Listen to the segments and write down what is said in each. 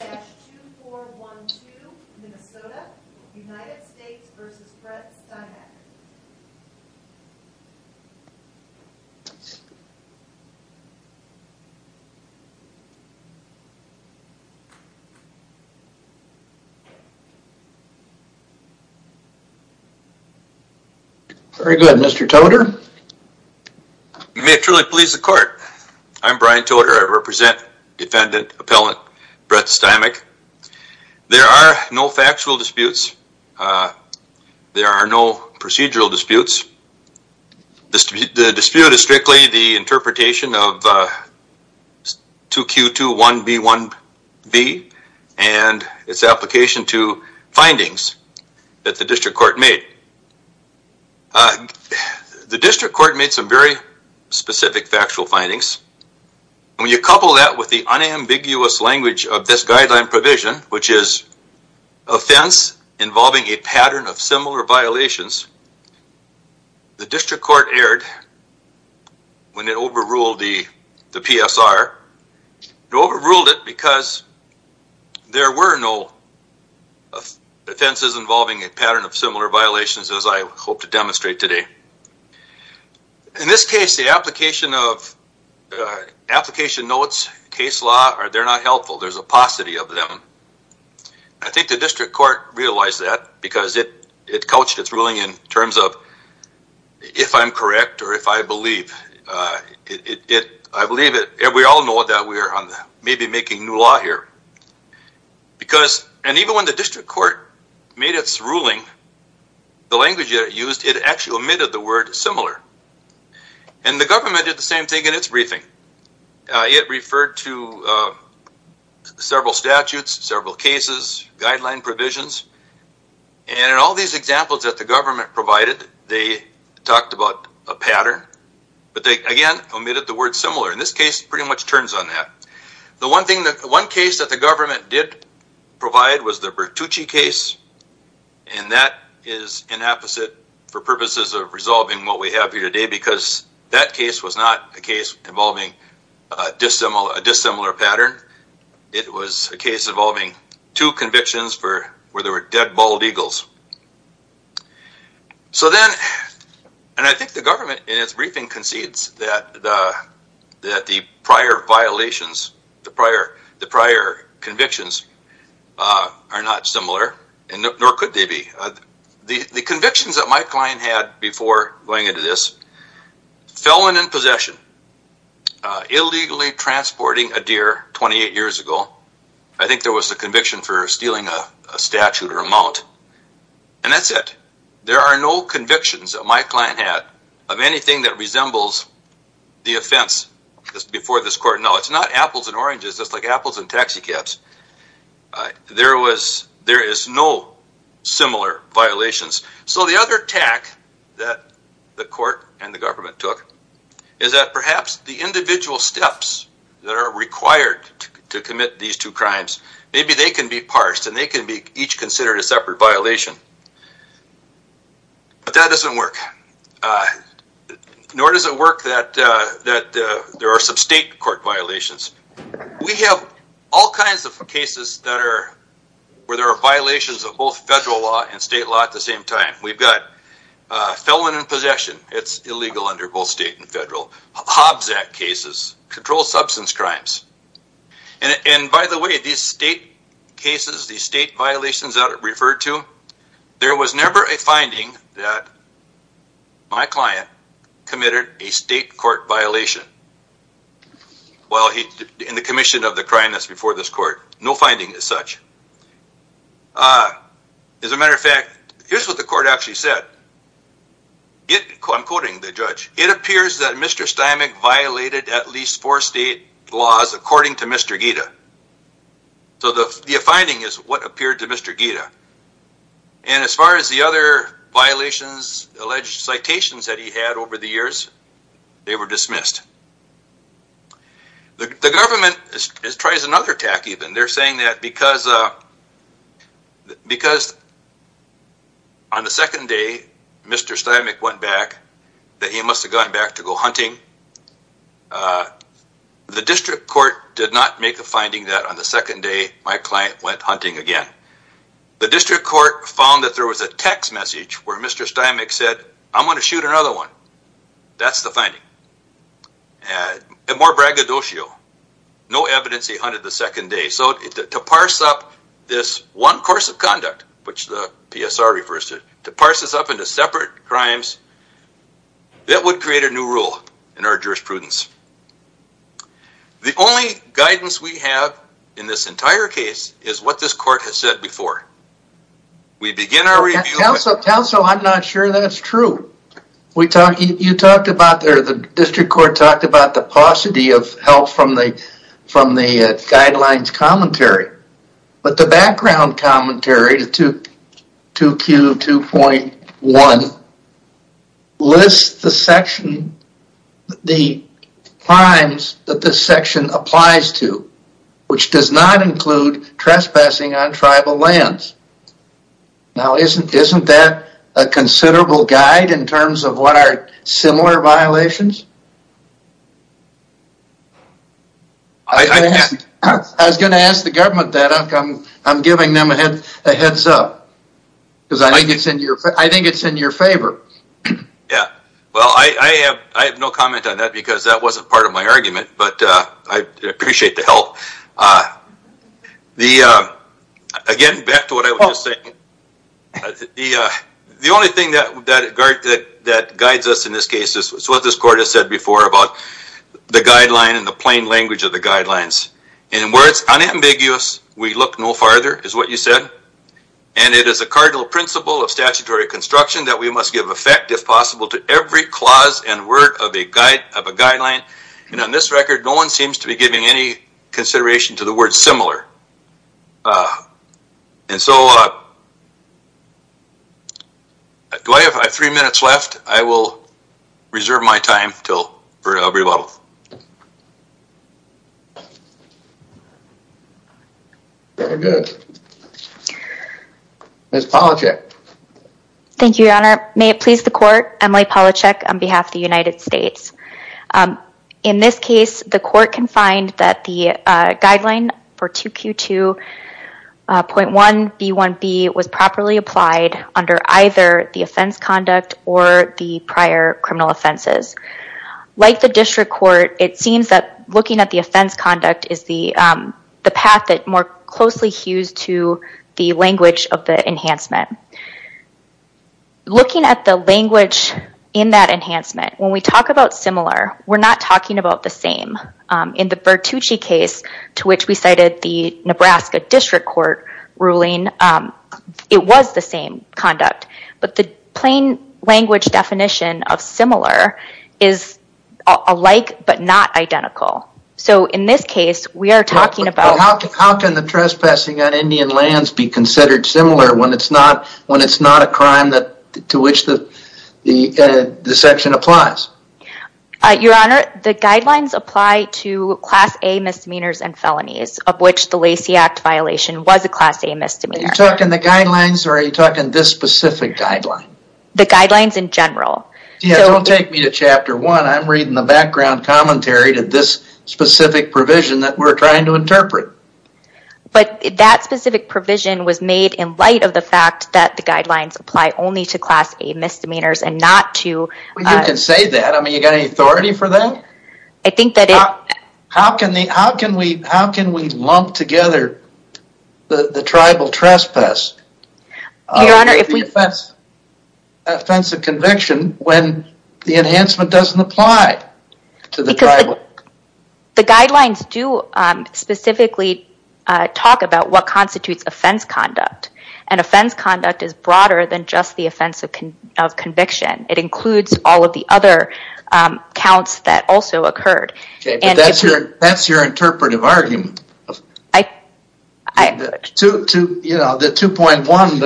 United States v. Brett Stimac Very good, Mr. Toder. You may truly please the court. I'm Brian Toder. I represent defendant appellant Brett Stimac. There are no factual disputes. There are no procedural disputes. The dispute is strictly the interpretation of 2Q21B1B and its application to findings that the district court made. The district court made some very specific factual findings, and when you couple that with the unambiguous language of this guideline provision, which is offense involving a pattern of similar violations, the district court erred when it overruled the PSR. It overruled it because there were no offenses involving a pattern of similar violations as I hope to demonstrate today. In this case, the application notes, case law, they're not helpful. There's a paucity of them. I think the district court realized that because it couched its ruling in terms of if I'm correct or if I believe. I believe that we all know that we are maybe making new law here, and even when the district court made its ruling, the language that it used, it actually omitted the word similar. The government did the same thing in its briefing. It referred to several statutes, several cases, guideline provisions, and in all these examples that the government provided, they talked about a pattern, but they again omitted the word similar. In this case, it pretty much turns on that. The one case that the government did provide was the Bertucci case, and that is an apposite for purposes of resolving what we have here today because that case was not a case involving a dissimilar pattern. It was a case involving two convictions where there were dead bald eagles. So then, and I think the government in its briefing concedes that the prior violations, the prior convictions are not similar, and nor could they be. The convictions that my client had before going into this, felon in possession, illegally transporting a deer 28 years ago, I think there was a conviction for stealing a statute or a mount, and that's it. There are no convictions that my client had of anything that resembles the offense before this court. No, it's not apples and oranges. It's like apples and taxi cabs. There is no similar violations. So the other tack that the court and the government took is that perhaps the individual steps that are required to commit these two crimes, maybe they can be parsed and they can be each considered a separate violation, but that doesn't work. Nor does it work that there are some state court violations. We have all kinds of cases that are, where there are violations of both federal law and state law at the same time. We've got felon in possession, it's illegal under both state and federal, Hobbs Act cases, controlled substance crimes. And by the way, these state cases, these state violations that are referred to, there was never a finding that my client committed a state court violation while he, in the commission of the crime that's before this court. No finding as such. As a matter of fact, here's what the court actually said. I'm quoting the judge. It appears that Mr. Steinmeier violated at least four state laws according to Mr. Ghita. So the finding is what appeared to Mr. Ghita. And as far as the other violations, alleged citations that he had over the years, they were dismissed. The government tries another tack even. And they're saying that because on the second day Mr. Steinmeier went back, that he must have gone back to go hunting, the district court did not make a finding that on the second day my client went hunting again. The district court found that there was a text message where Mr. Steinmeier said, I'm going to shoot another one. That's the finding. And more braggadocio. No evidence he hunted the second day. So to parse up this one course of conduct, which the PSR refers to, to parse this up into separate crimes, that would create a new rule in our jurisprudence. The only guidance we have in this entire case is what this court has said before. We begin our review with- Counsel, I'm not sure that's true. You talked about the district court talked about the paucity of help from the guidelines commentary. But the background commentary, 2Q2.1, lists the section, the crimes that this section applies to, which does not include trespassing on tribal lands. Now, isn't that a considerable guide in terms of what are similar violations? I was going to ask the government that, I'm giving them a heads up, because I think it's in your favor. Yeah. Well, I have no comment on that because that wasn't part of my argument, but I appreciate the help. Again, back to what I was just saying, the only thing that guides us in this case is what this court has said before about the guideline and the plain language of the guidelines. In words, unambiguous, we look no farther, is what you said, and it is a cardinal principle of statutory construction that we must give effect, if possible, to every clause and word of a guideline. And on this record, no one seems to be giving any consideration to the word similar. And so, do I have three minutes left? I will reserve my time for a rebuttal. Very good. Ms. Palachek. Thank you, Your Honor. May it please the court, Emily Palachek on behalf of the United States. In this case, the court can find that the guideline for 2Q2.1B1B was properly applied under either the offense conduct or the prior criminal offenses. Like the district court, it seems that looking at the offense conduct is the path that more closely hews to the language of the enhancement. Looking at the language in that enhancement, when we talk about similar, we're not talking about the same. In the Bertucci case, to which we cited the Nebraska district court ruling, it was the same conduct. But the plain language definition of similar is alike but not identical. So, in this case, we are talking about... when it's not a crime to which the section applies. Your Honor, the guidelines apply to Class A misdemeanors and felonies of which the Lacey Act violation was a Class A misdemeanor. Are you talking the guidelines or are you talking this specific guideline? The guidelines in general. Yeah, don't take me to Chapter 1. I'm reading the background commentary to this specific provision that we're trying to interpret. But that specific provision was made in light of the fact that the guidelines apply only to Class A misdemeanors and not to... Well, you can say that. I mean, you got any authority for that? I think that it... How can we lump together the tribal trespass? Your Honor, if we... Offensive conviction when the enhancement doesn't apply to the tribal... The guidelines do specifically talk about what constitutes offense conduct. And offense conduct is broader than just the offense of conviction. It includes all of the other counts that also occurred. Okay, but that's your interpretive argument. The 2.1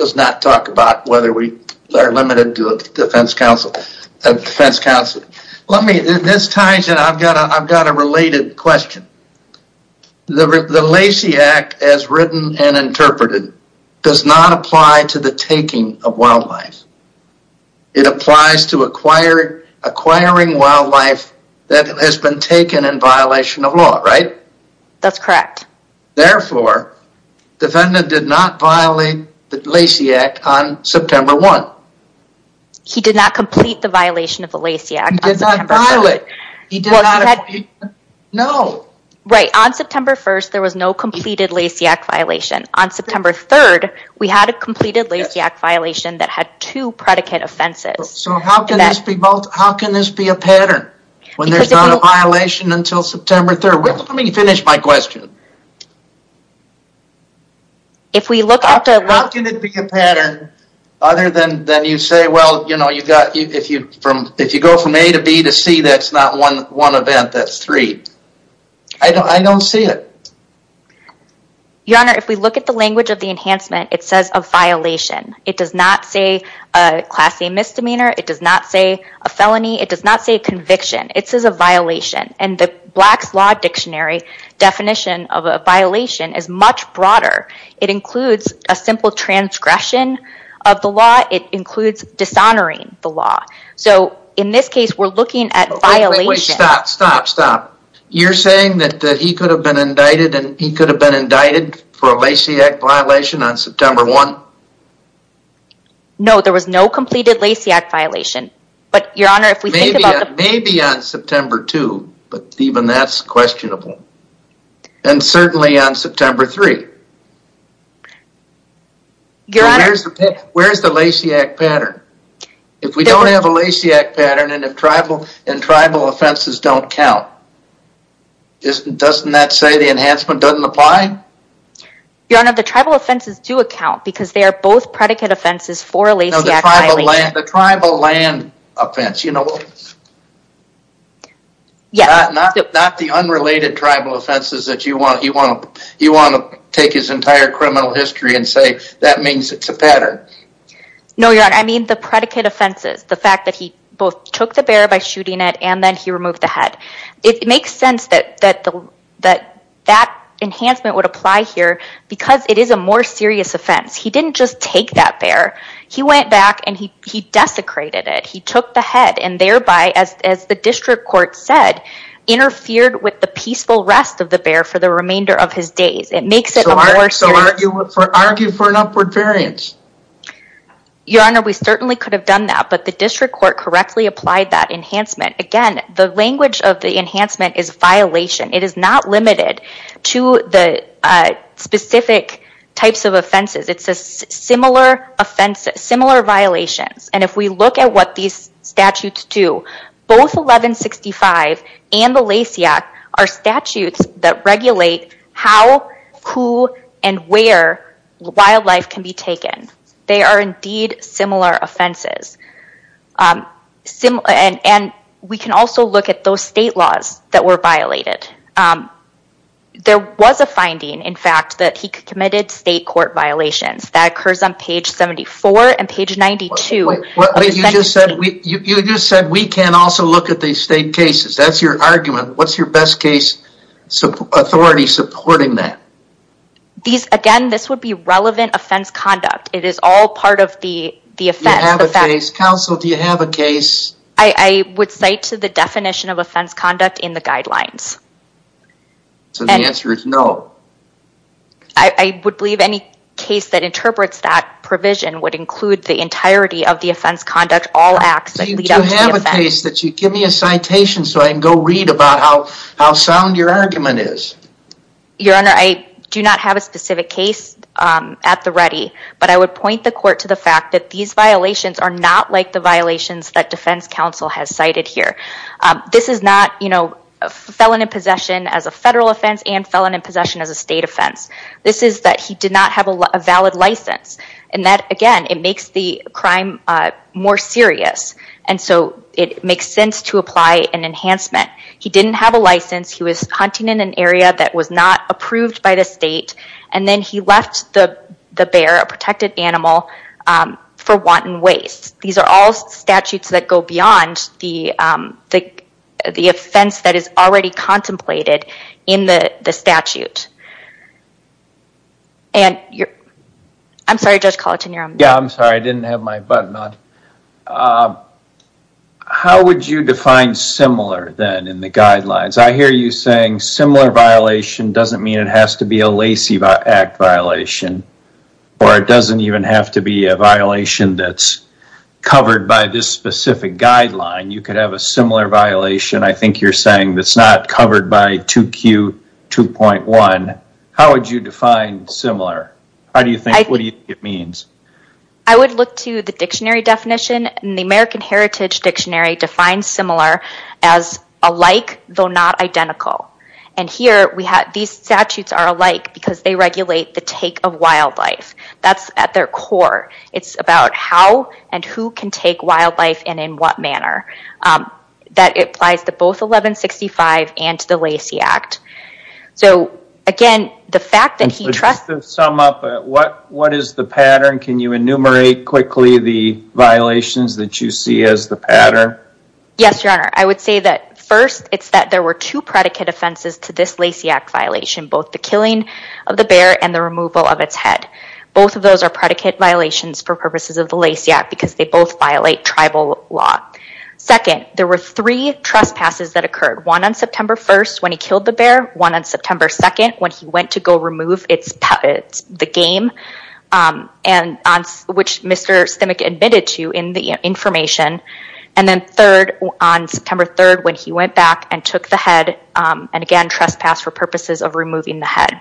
does not talk about whether we are limited to a defense counsel. Let me... This ties in. I've got a related question. The Lacey Act, as written and interpreted, does not apply to the taking of wildlife. It applies to acquiring wildlife that has been taken in violation of law, right? That's correct. Therefore, defendant did not violate the Lacey Act on September 1. No. He did not complete the violation of the Lacey Act on September 1. He did not violate. He did not... Well, he had... No. Right. On September 1st, there was no completed Lacey Act violation. On September 3rd, we had a completed Lacey Act violation that had two predicate offenses. So how can this be both... How can this be a pattern when there's not a violation until September 3rd? Let me finish my question. If we look at the... Other than you say, well, if you go from A to B to C, that's not one event. That's three. I don't see it. Your Honor, if we look at the language of the enhancement, it says a violation. It does not say a class A misdemeanor. It does not say a felony. It does not say conviction. It says a violation. And the Black's Law Dictionary definition of a violation is much broader. It includes a simple transgression of the law. It includes dishonoring the law. So, in this case, we're looking at violation... Wait, wait, wait. Stop, stop, stop. You're saying that he could have been indicted and he could have been indicted for a Lacey Act violation on September 1? No, there was no completed Lacey Act violation. But, Your Honor, if we think about the... Maybe on September 2, but even that's questionable. And certainly on September 3. Your Honor... Where's the Lacey Act pattern? If we don't have a Lacey Act pattern and tribal offenses don't count, doesn't that say the enhancement doesn't apply? Your Honor, the tribal offenses do account because they are both predicate offenses for a Lacey Act violation. No, the tribal land offense. Not the unrelated tribal offenses that you want to take his entire criminal history and say that means it's a pattern. No, Your Honor, I mean the predicate offenses. The fact that he both took the bear by shooting it and then he removed the head. It makes sense that that enhancement would apply here because it is a more serious offense. He didn't just take that bear. He went back and he desecrated it. He took the head and thereby, as the district court said, interfered with the peaceful rest of the bear for the remainder of his days. It makes it a more serious... So argue for an upward variance. Your Honor, we certainly could have done that, but the district court correctly applied that enhancement. Again, the language of the enhancement is violation. It is not limited to the specific types of offenses. It's a similar violation. If we look at what these statutes do, both 1165 and the Lacey Act are statutes that regulate how, who, and where wildlife can be taken. They are indeed similar offenses. We can also look at those state laws that were violated. There was a finding, in fact, that he committed state court violations. That occurs on page 74 and page 92. You just said we can also look at these state cases. That's your argument. What's your best case authority supporting that? Again, this would be relevant offense conduct. It is all part of the offense. You have a case. Counsel, do you have a case? I would cite to the definition of offense conduct in the guidelines. The answer is no. I would believe any case that interprets that provision would include the entirety of the offense conduct, all acts that lead up to the offense. You do have a case. Give me a citation so I can go read about how sound your argument is. Your Honor, I do not have a specific case at the ready. I would point the court to the fact that these violations are not like the violations that defense counsel has cited here. This is not felon in possession as a federal offense and felon in possession as a state offense. This is that he did not have a valid license. Again, it makes the crime more serious. It makes sense to apply an enhancement. He didn't have a license. He was hunting in an area that was not approved by the state. Then he left the bear, a protected animal, for wanton waste. These are all statutes that go beyond the offense that is already contemplated in the statute. I'm sorry, Judge Colleton, you're on mute. I'm sorry. I didn't have my button on. How would you define similar then in the guidelines? I hear you saying similar violation doesn't mean it has to be a Lacey Act violation. Or it doesn't even have to be a violation that's covered by this specific guideline. You could have a similar violation. I think you're saying it's not covered by 2Q2.1. How would you define similar? What do you think it means? I would look to the dictionary definition. The American Heritage Dictionary defines similar as alike, though not identical. Here, these statutes are alike because they regulate the take of wildlife. That's at their core. It's about how and who can take wildlife and in what manner. That applies to both 1165 and to the Lacey Act. Again, the fact that he trusts... Just to sum up, what is the pattern? Can you enumerate quickly the violations that you see as the pattern? Yes, Your Honor. I would say that first, it's that there were two predicate offenses to this Lacey Act violation. Both the killing of the bear and the removal of its head. Both of those are predicate violations for purposes of the Lacey Act because they both violate tribal law. Second, there were three trespasses that occurred. One on September 1st when he killed the bear. One on September 2nd when he went to go remove the game. Which Mr. Stimmick admitted to in the information. Then third, on September 3rd when he went back and took the head. Again, trespass for purposes of removing the head.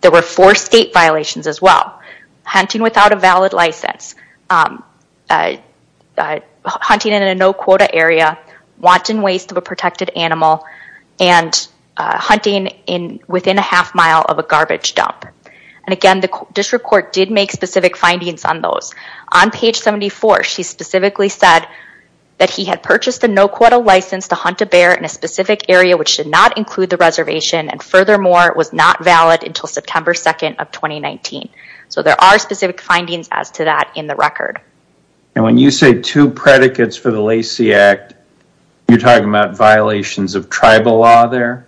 There were four state violations as well. Hunting without a valid license. Hunting in a no quota area. Wanton waste of a protected animal. Hunting within a half mile of a garbage dump. And again, the district court did make specific findings on those. On page 74, she specifically said that he had purchased a no quota license to hunt a bear in a specific area which should not include the reservation. And furthermore, it was not valid until September 2nd of 2019. So there are specific findings as to that in the record. And when you say two predicates for the Lacey Act, you're talking about violations of tribal law there?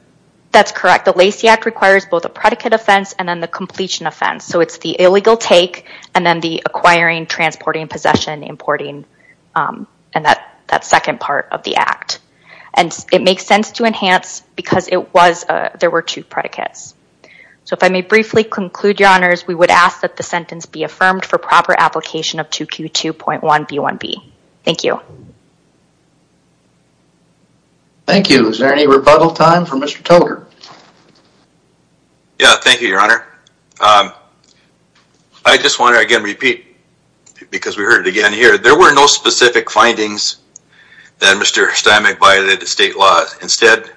That's correct. The Lacey Act requires both a predicate offense and then the completion offense. So it's the illegal take and then the acquiring, transporting, possession, importing, and that second part of the act. And it makes sense to enhance because there were two predicates. So if I may briefly conclude, Your Honors, we would ask that the sentence be affirmed for proper application of 2Q2.1B1B. Thank you. Thank you. Is there any rebuttal time for Mr. Tolker? Thank you, Your Honor. I just want to again repeat because we heard it again here. There were no specific findings that Mr. Steinmeck violated state laws. Instead,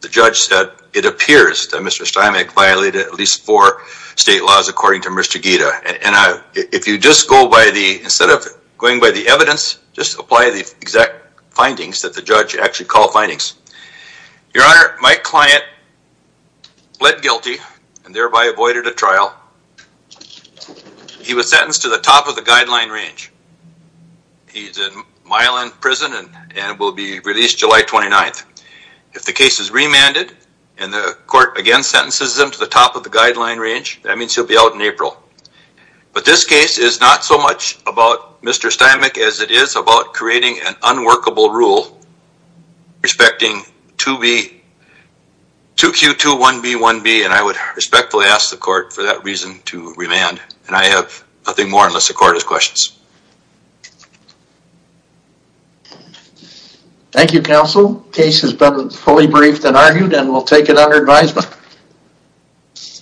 the judge said it appears that Mr. Steinmeck violated at least four state laws according to Mr. Guida. And if you just go by the, instead of going by the evidence, just apply the exact findings that the judge actually called findings. Your Honor, my client pled guilty and thereby avoided a trial. He was sentenced to the top of the guideline range. He's a mile in prison and will be released July 29th. If the case is remanded and the court again sentences him to the top of the guideline range, that means he'll be out in April. But this case is not so much about Mr. Steinmeck as it is about creating an unworkable rule respecting 2B, 2Q2.1B1B. And I would respectfully ask the court for that reason to remand. And I have nothing more unless the court has questions. Thank you, Counsel. The case has been fully briefed and argued and we'll take it under advisement.